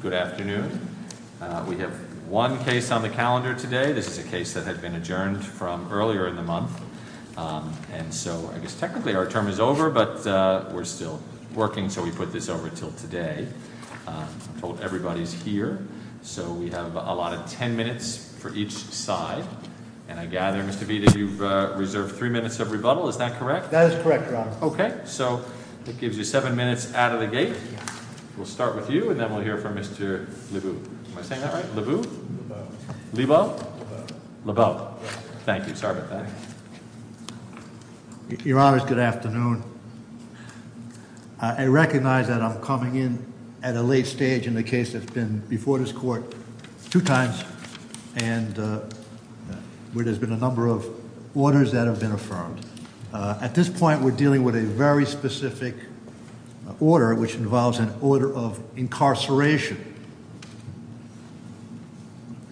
Good afternoon. We have one case on the calendar today. This is a case that had been adjourned from earlier in the month, and so I guess technically our term is over, but we're still working, so we put this over until today. I'm told everybody's here, so we have a lot of 10 minutes for each side, and I gather, Mr. Vita, you've reserved three minutes of rebuttal. Is that correct? That is correct, Your Honor. Okay, so that gives you seven minutes out of the gate. We'll start with you, and then we'll hear from Mr. Lebeau. Am I saying that right? Lebeau? Lebeau? Lebeau. Thank you. Sorry about that. Your Honors, good afternoon. I recognize that I'm coming in at a late stage in the case that's been before this Court two times, and where there's been a number of orders that have been affirmed. At this point, we're dealing with a very specific order, which involves an order of incarceration,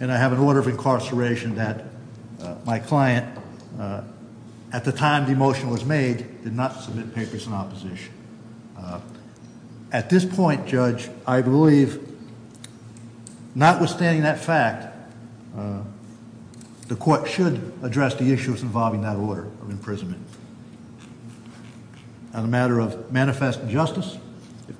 and I have an order of incarceration that my client, at the time the motion was made, did not submit papers in opposition. At this point, Judge, I believe, notwithstanding that fact, the Court should address the issues involving that order of imprisonment. On the matter of manifest injustice?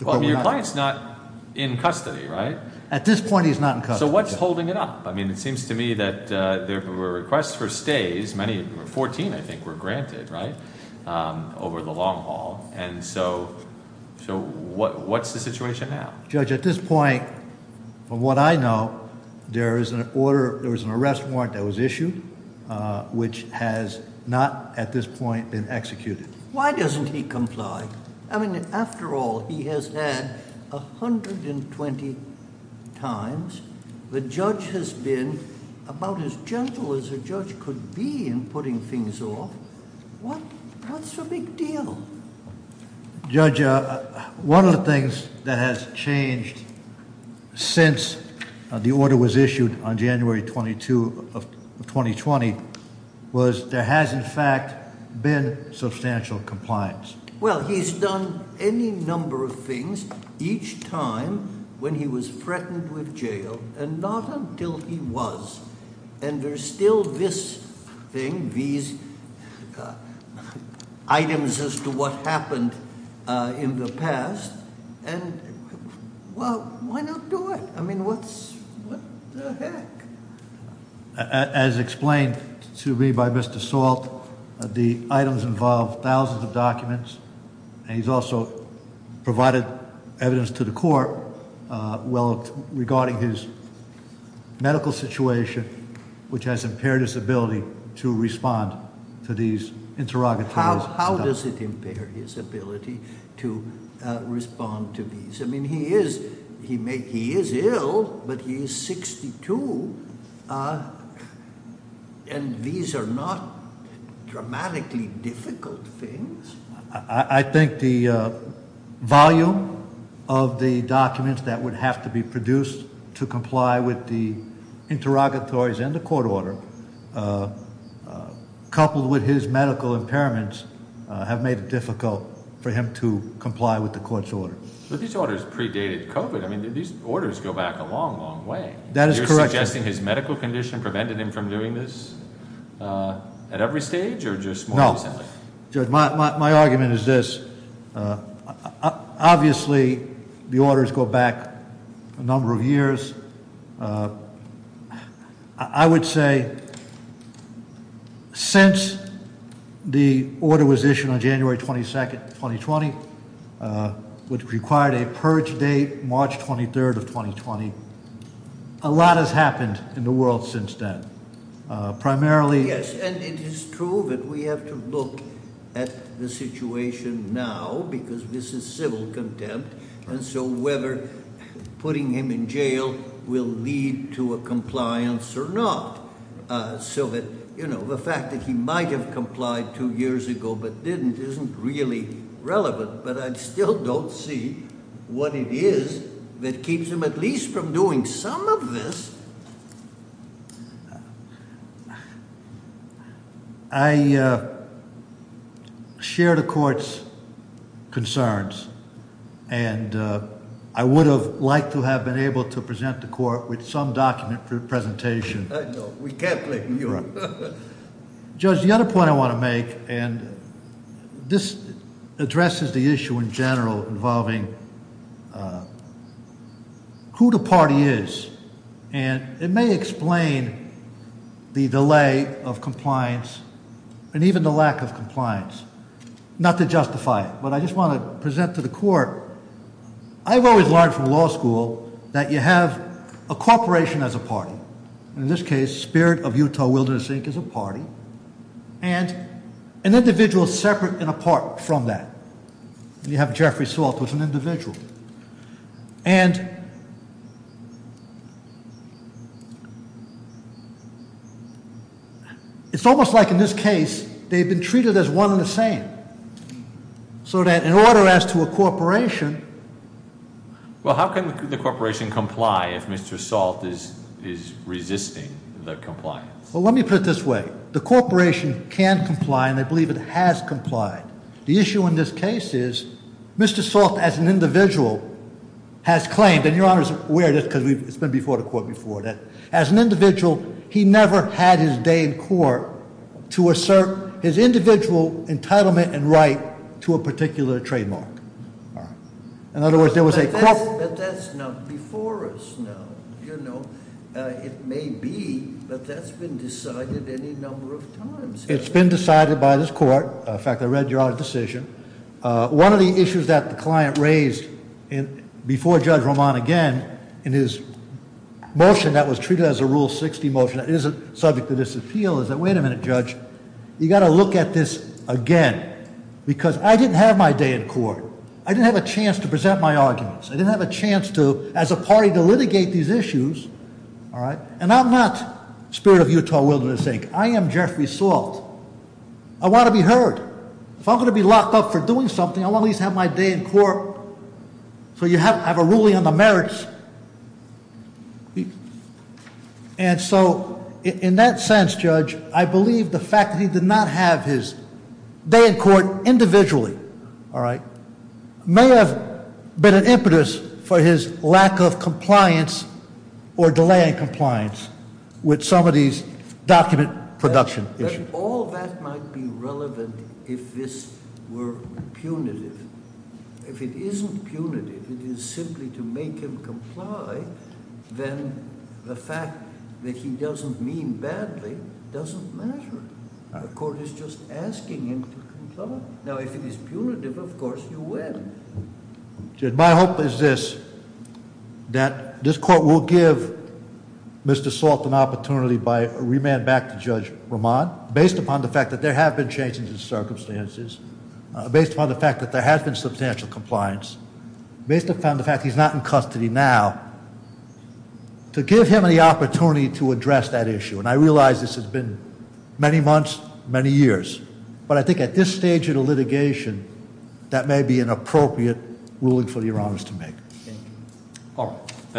Well, your client's not in custody, right? At this point, he's not in custody. So what's holding it up? I mean, it seems to me that there were requests for stays. Many, 14, I think, were granted, right, over the long haul, and so what's the order? There was an arrest warrant that was issued, which has not, at this point, been executed. Why doesn't he comply? I mean, after all, he has had 120 times. The judge has been about as gentle as a judge could be in putting things off. That's a big deal. Judge, one of the things that has changed since the order was issued on January 22 of 2020 was there has, in fact, been substantial compliance. Well, he's done any number of things each time when he was threatened with jail, and not until he was, and there's still this thing, these items as to what happened in the past, and well, why not do it? I mean, what the heck? As explained to me by Mr. Salt, the items involve thousands of documents, and he's also provided evidence to the court regarding his medical situation, which has impaired his ability to respond to these interrogatories. How does it impair his ability to respond to these? I mean, he is ill, but he is 62, and these are not dramatically difficult things. I think the volume of the documents that would have to be produced to comply with the interrogatories and the court order, coupled with his medical impairments, have made it difficult for him to comply with the court's order. But these orders predated COVID. I mean, these orders go back a long, long way. That is correct. You're suggesting his medical condition prevented him from doing this at every stage, or just more recently? No. Judge, my argument is this. Obviously, the orders go back a number of years. I would say since the order was issued on January 22nd, 2020, which required a purge date, March 23rd of 2020, a lot has happened in the world since then, primarily- Yes, and it is true that we have to look at the situation now, because this is civil contempt, and so whether putting him in jail will lead to a compliance or not. So that, you know, the fact that he might have complied two years ago but didn't isn't really relevant, but I still don't see what it is that keeps him at least from doing some of this. I share the court's concerns, and I would have liked to have been able to present the court with some document for the presentation. I know. We can't blame you. Judge, the other point I want to make, and this addresses the issue in general involving who the party is, and it may explain the delay of compliance and even the lack of compliance, not to justify it, but I just want to present to the court. I've always learned from law school that you have a corporation as a party, and in this case, Spirit of Utah Wilderness Inc. is a party, and an individual separate and apart from that. You have Jeffrey Saltz was an individual, and it's almost like in this case they've been treated as one and the same, so that in order as to a corporation- Well, how can the corporation comply if Mr. Saltz is is resisting the compliance? Well, let me put it this way. The corporation can comply, and I believe has complied. The issue in this case is Mr. Saltz as an individual has claimed, and Your Honor is aware of this because it's been before the court before, that as an individual, he never had his day in court to assert his individual entitlement and right to a particular trademark. In other words, there was a- But that's not before us now. It may be, but that's been decided any number of In fact, I read Your Honor's decision. One of the issues that the client raised before Judge Roman again in his motion that was treated as a Rule 60 motion that isn't subject to disappeal is that, wait a minute, Judge. You got to look at this again, because I didn't have my day in court. I didn't have a chance to present my arguments. I didn't have a chance to as a party to litigate these issues, all right, and I'm not Spirit of Utah Wilderness Inc. I am Jeffrey Saltz. I want to be heard. If I'm going to be locked up for doing something, I want to at least have my day in court so you have a ruling on the merits. And so in that sense, Judge, I believe the fact that he did not have his day in court individually, all right, may have been an impetus for his lack of compliance or delay in compliance with some of these document production issues. All that might be relevant if this were punitive. If it isn't punitive, it is simply to make him comply, then the fact that he doesn't mean badly doesn't matter. The court is just asking him to win. My hope is this, that this court will give Mr. Saltz an opportunity to remand back to Judge Ramon, based upon the fact that there have been changes in circumstances, based upon the fact that there has been substantial compliance, based upon the fact that he's not in custody now, to give him the opportunity to address that issue. And I realize this has been many months, many years, but I think at this stage of the litigation, that may be an appropriate ruling for the Your Honor's to make. All right.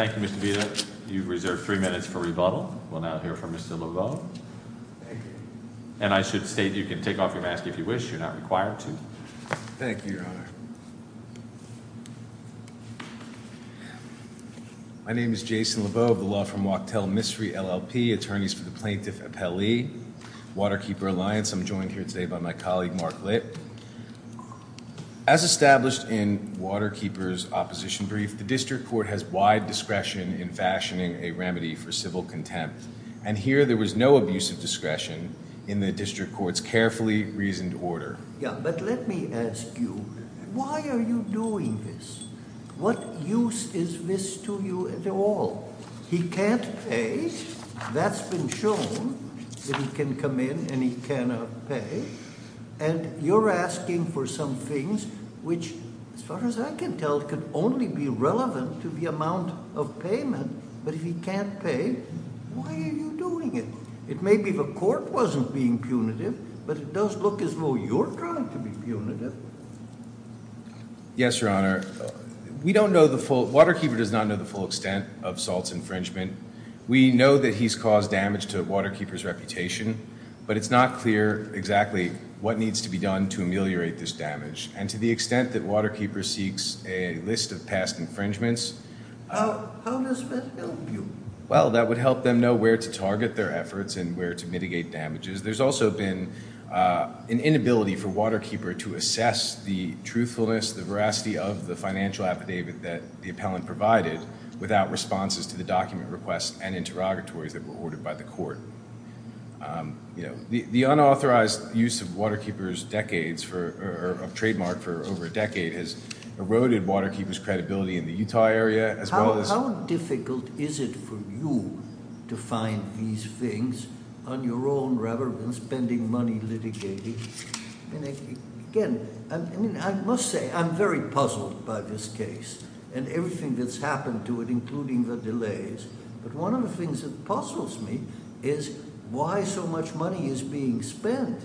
Thank you, Mr. Vita. You've reserved three minutes for rebuttal. We'll now hear from Mr. Laveau. And I should state you can take off your mask if you wish. You're not required to. Thank you, Your Honor. My name is Jason Laveau of the law firm Wachtell Mystery LLP, attorneys for the plaintiff, appellee, Waterkeeper Alliance. I'm joined here today by my colleague, Mark Litt. As established in Waterkeeper's opposition brief, the district court has wide discretion in fashioning a remedy for civil contempt. And here there was no abusive discretion in the district court's carefully reasoned order. Yeah, but let me ask you, why are you doing this? What use is this to you at all? He can't pay. That's been shown that he can come in and he cannot pay. And you're asking for some things which, as far as I can tell, could only be relevant to the amount of payment. But if he can't pay, why are you doing it? It may be the court wasn't being punitive, but it does look as though you're trying to be punitive. Yes, Your Honor. We don't know the full, Waterkeeper does not know the full extent of Salt's infringement. We know that he's caused damage to Waterkeeper's reputation, but it's not clear exactly what needs to be done to ameliorate this damage. And to the extent that Waterkeeper seeks a list of past infringements. How does that help you? Well, that would help them know where to target their efforts and where to mitigate damages. There's also been an inability for Waterkeeper to assess the truthfulness, the veracity of the financial affidavit that the appellant provided without responses to the document requests and interrogatories that were ordered by the court. The unauthorized use of Waterkeeper's decades for a trademark for over a decade has eroded Waterkeeper's credibility in the Utah area. How difficult is it for you to find these things on your own rather than spending money litigating? Again, I must say I'm very puzzled by this case and everything that's happened to it, including the delays. But one of the things that puzzles me is why so much money is being spent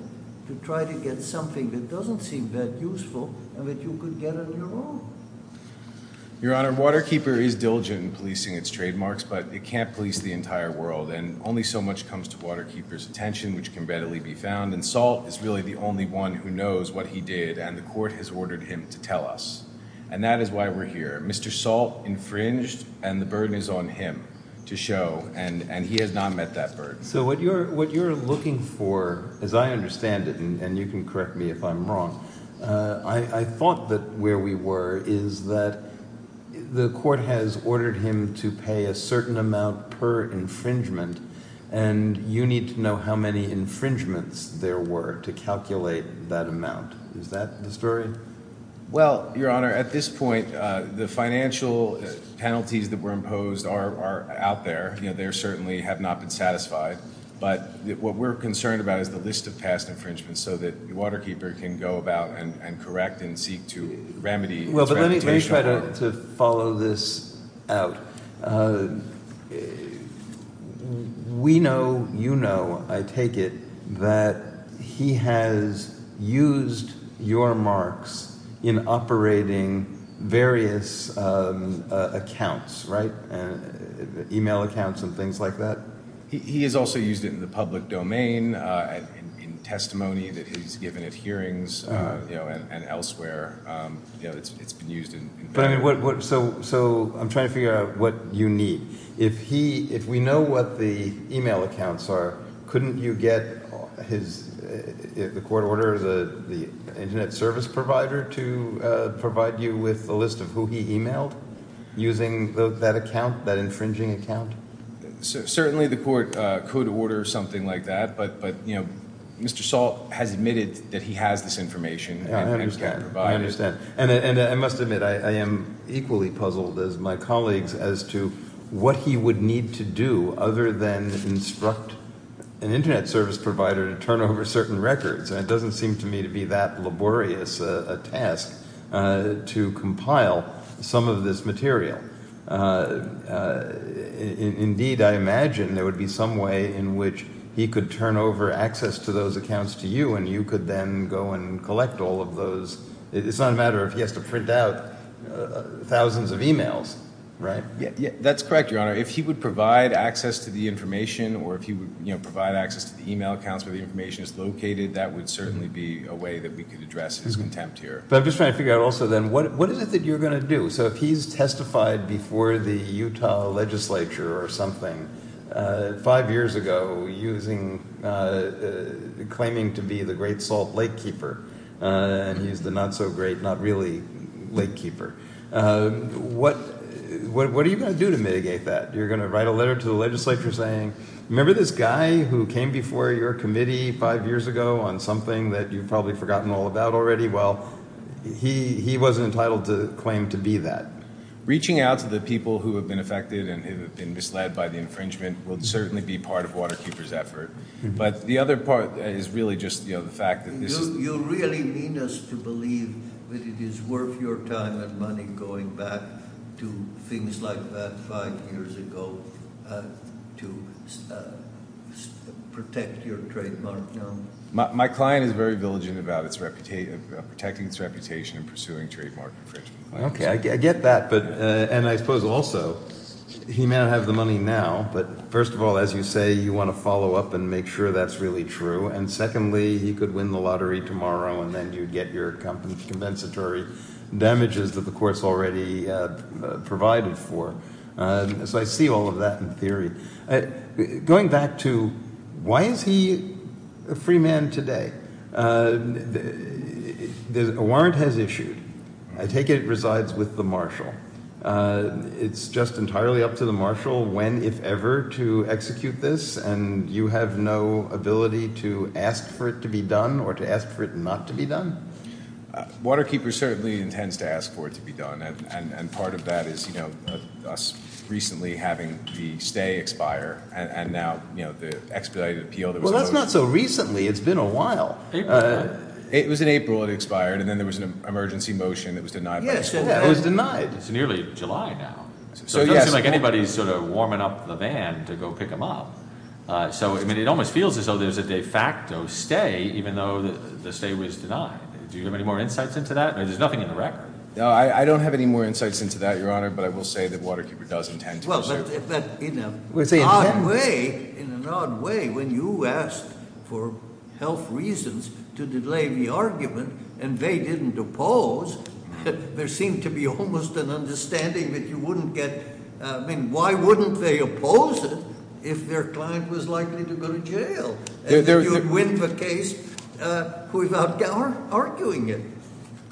to try to get something that doesn't seem that useful and that you could get on your own. Your Honor, Waterkeeper is diligent in policing its trademarks, but it can't police the entire world. And only so much comes to Waterkeeper's attention, which can readily be found. And Salt is really the only one who knows what he did, and the court has ordered him to tell us. And that is why we're here. Mr. Salt infringed, and the burden is on him to show. And he has not met that burden. So what you're looking for, as I understand it, and you can correct me if I'm wrong, I thought that where we were is that the court has ordered him to pay a certain amount per infringement. And you need to know how many infringements there were to calculate that amount. Is that the story? Well, Your Honor, at this point, the financial penalties that were imposed are out there. They certainly have not been satisfied. But what we're concerned about is the list of past infringements so that Waterkeeper can go about and correct and seek to remedy. Well, let me try to follow this out. We know, you know, I take it that he has used your marks in operating various accounts, right? Email accounts and things like that. He has also used it in the public domain, in testimony that he's given at hearings, you know, and elsewhere. You know, it's been used in... So I'm trying to figure out what you need. If we know what the email accounts are, couldn't you get his, the court orders the internet service provider to provide you with a list of who he emailed using that account, that infringing account? Certainly, the court could order something like that. But, you know, Mr. Salt has admitted that he has this information and can provide it. I understand. And I must admit, I am equally puzzled as my colleagues as to what he would need to do other than instruct an internet service provider to turn over certain records. And it doesn't seem to me to be that laborious a task to compile some of this material. Indeed, I imagine there would be some way in which he could turn over access to those accounts to you and you could then go and collect all of those. It's not a matter of he has to print out thousands of emails, right? That's correct, Your Honor. If he would provide access to the information or if he would, you know, provide access to the email accounts where the information is located, that would certainly be a way that we could address his contempt here. I'm just trying to figure out also then, what is it that you're going to do? So if he's testified before the Utah legislature or something five years ago using, claiming to be the Great Salt Lakekeeper, and he's the not so great, not really Lakekeeper, what are you going to do to mitigate that? You're going to write a letter to the legislature saying, remember this guy who came before your committee five years ago on something that you've probably forgotten all about already? Well, he wasn't entitled to claim to be that. Reaching out to the people who have been affected and have been misled by the infringement will certainly be part of Waterkeeper's effort, but the other part is really just, you know, the fact that this is... You really mean us to believe that it is worth your time and money going back to things like that five years ago to protect your trademark, Your Honor? My client is very diligent about protecting its reputation and pursuing trademark infringement. Okay, I get that. And I suppose also, he may not have the money now, but first of all, as you say, you want to follow up and make sure that's really true. And secondly, he could win the lottery tomorrow and then you'd get your compensatory damages that the I take it it resides with the marshal. It's just entirely up to the marshal when, if ever, to execute this, and you have no ability to ask for it to be done or to ask for it not to be done? Waterkeeper certainly intends to ask for it to be done. And part of that is, you know, us recently having the stay expire and now, you know, the expedited appeal... It's not so recently. It's been a while. It was in April, it expired. And then there was an emergency motion that was denied. Yes, it was denied. It's nearly July now. So it doesn't seem like anybody's sort of warming up the van to go pick them up. So I mean, it almost feels as though there's a de facto stay, even though the stay was denied. Do you have any more insights into that? There's nothing in the record. No, I don't have any more insights into that, Your Honor. But I will say that Waterkeeper does intend to... In an odd way, when you asked for health reasons to delay the argument and they didn't oppose, there seemed to be almost an understanding that you wouldn't get... I mean, why wouldn't they oppose it if their client was likely to go to jail? And you would win the case without arguing it.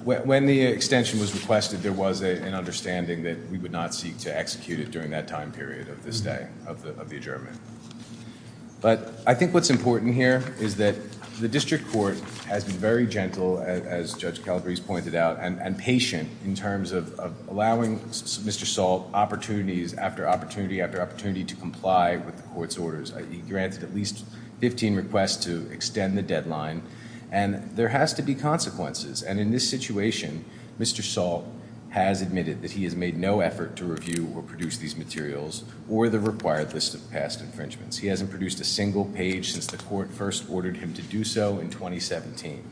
When the extension was requested, there was an understanding that we would not seek to execute it during that time period of this day, of the adjournment. But I think what's important here is that the district court has been very gentle, as Judge Calabrese pointed out, and patient in terms of allowing Mr. Salt opportunities after opportunity after opportunity to comply with the court's orders. He granted at least 15 requests to extend the deadline. And there has to be consequences. And in this situation, Mr. Salt has admitted that he has made no effort to review or produce these materials or the required list of past infringements. He hasn't produced a single page since the court first ordered him to do so in 2017.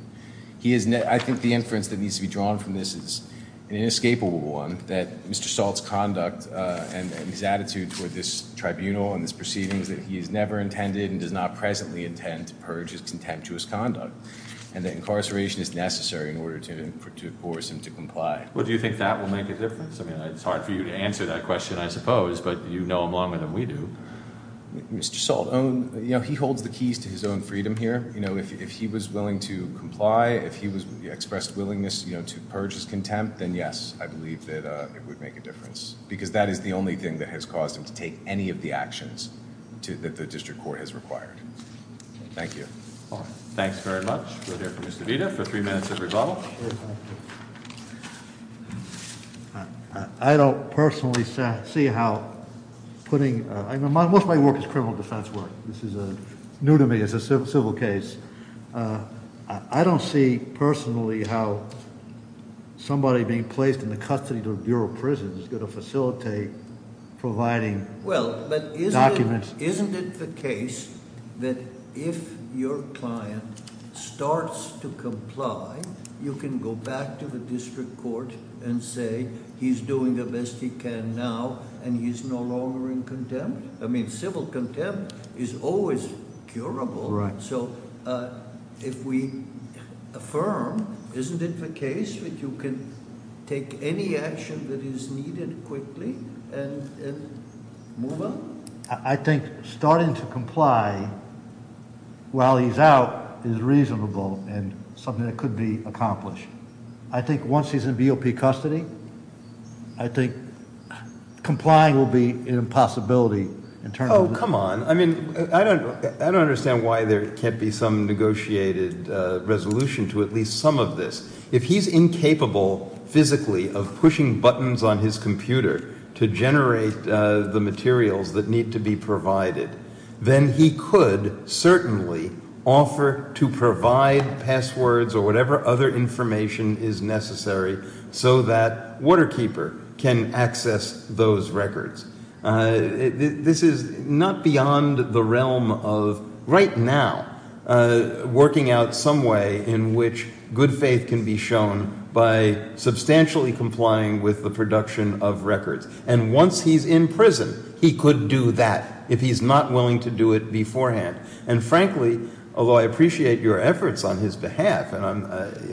I think the inference that needs to be drawn from this is an inescapable one, that Mr. Salt's conduct and his attitude toward this tribunal and his proceedings, that he has never intended and does not presently intend to purge his contemptuous conduct, and that incarceration is necessary in order to force him to comply. Well, do you think that will make a difference? I mean, it's hard for you to answer that question, I suppose, but you know him longer than we do. Mr. Salt, you know, he holds the keys to his own freedom here. You know, if he was willing to comply, if he expressed willingness, you know, to purge his contempt, then yes, I believe that it would make a difference. Because that is the only thing that has caused him to take any of the actions that the district court has required. Thank you. Thanks very much. We'll hear from Mr. Vita for three minutes of rebuttal. I don't personally see how putting, most of my work is criminal defense work. This is a new to me, it's a civil case. I don't see personally how somebody being placed in the custody of the Bureau of Prisons is going to facilitate providing documents. Well, but isn't it the case that if your client starts to comply, you can go back to the district court and say, he's doing the best he can now, and he's no longer in contempt? I mean, civil contempt is always curable. Right. So if we affirm, isn't it the case that you can take any action that is to comply while he's out is reasonable and something that could be accomplished? I think once he's in BOP custody, I think complying will be an impossibility. Oh, come on. I mean, I don't understand why there can't be some negotiated resolution to at least some of this. If he's incapable physically of pushing buttons on his computer to generate the materials that need to be provided, then he could certainly offer to provide passwords or whatever other information is necessary so that Waterkeeper can access those records. This is not beyond the realm of right now working out some way in which good faith can be shown by substantially complying with the production of records. And once he's in prison, he could do that if he's not willing to do it beforehand. And frankly, although I appreciate your efforts on his behalf, and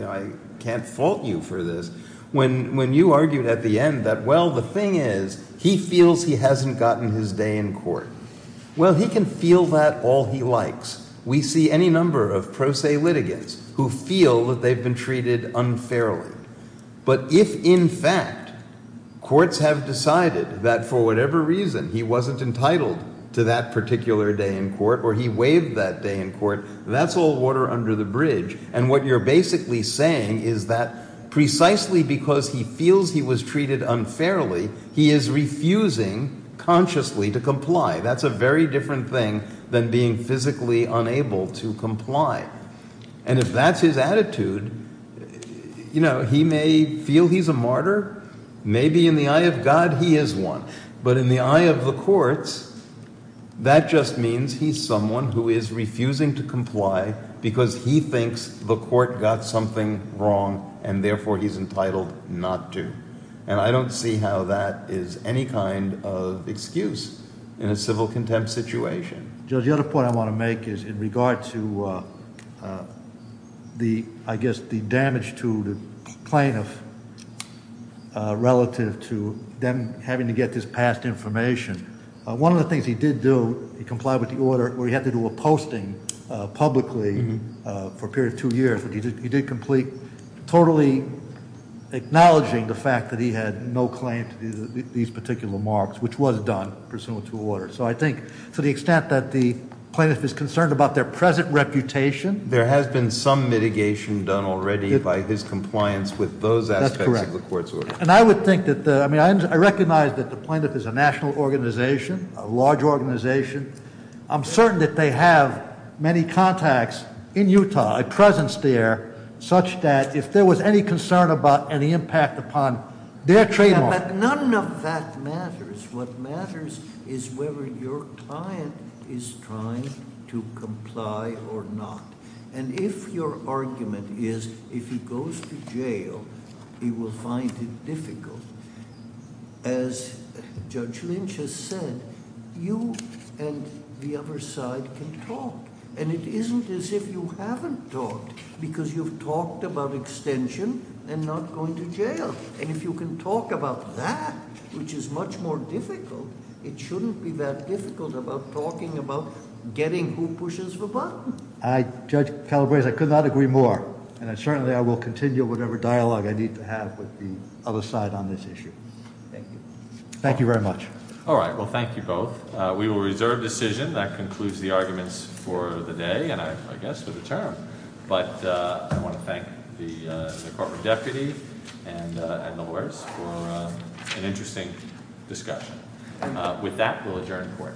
I can't fault you for this, when you argued at the end that, well, the thing is, he feels he hasn't gotten his day in court. Well, he can feel that all he likes. We see any number of pro se in fact, courts have decided that for whatever reason he wasn't entitled to that particular day in court or he waived that day in court. That's all water under the bridge. And what you're basically saying is that precisely because he feels he was treated unfairly, he is refusing consciously to comply. That's a very different thing than being physically unable to comply. And if that's his Maybe in the eye of God, he is one. But in the eye of the courts, that just means he's someone who is refusing to comply because he thinks the court got something wrong, and therefore he's entitled not to. And I don't see how that is any kind of excuse in a civil contempt situation. Judge, the other point I want to make is in regard to the, I guess, the damage to the plaintiff relative to them having to get this past information. One of the things he did do, he complied with the order where he had to do a posting publicly for a period of two years, but he did complete, totally acknowledging the fact that he had no claim to these particular marks, which was done pursuant to order. So I think to the extent that the plaintiff is concerned about their present reputation- There has been some mitigation done already by his compliance with those aspects of the court's order. And I would think that, I mean, I recognize that the plaintiff is a national organization, a large organization. I'm certain that they have many contacts in Utah, a presence there, such that if there was any concern about any impact upon their trademark- But none of that matters. What matters is whether your client is trying to comply or not. And if your argument is, if he goes to jail, he will find it difficult, as Judge Lynch has said, you and the other side can talk. And it isn't as if you haven't talked, because you've talked about extension and not going to jail. And if you can talk about that, which is much more difficult, it shouldn't be that difficult about talking about getting who pushes the button. I, Judge Calabrese, I could not agree more. And certainly I will continue whatever dialogue I need to have with the other side on this issue. Thank you. Thank you very much. All right. Well, thank you both. We will reserve decision. That concludes the arguments for the day and I guess for the term. But I want to thank the corporate deputy and the lawyers for an interesting discussion. With that, we'll adjourn court.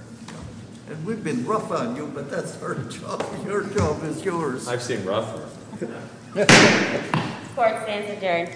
And we've been rough on you, but that's our job. Your job is yours. I've seen rougher. Court stands adjourned.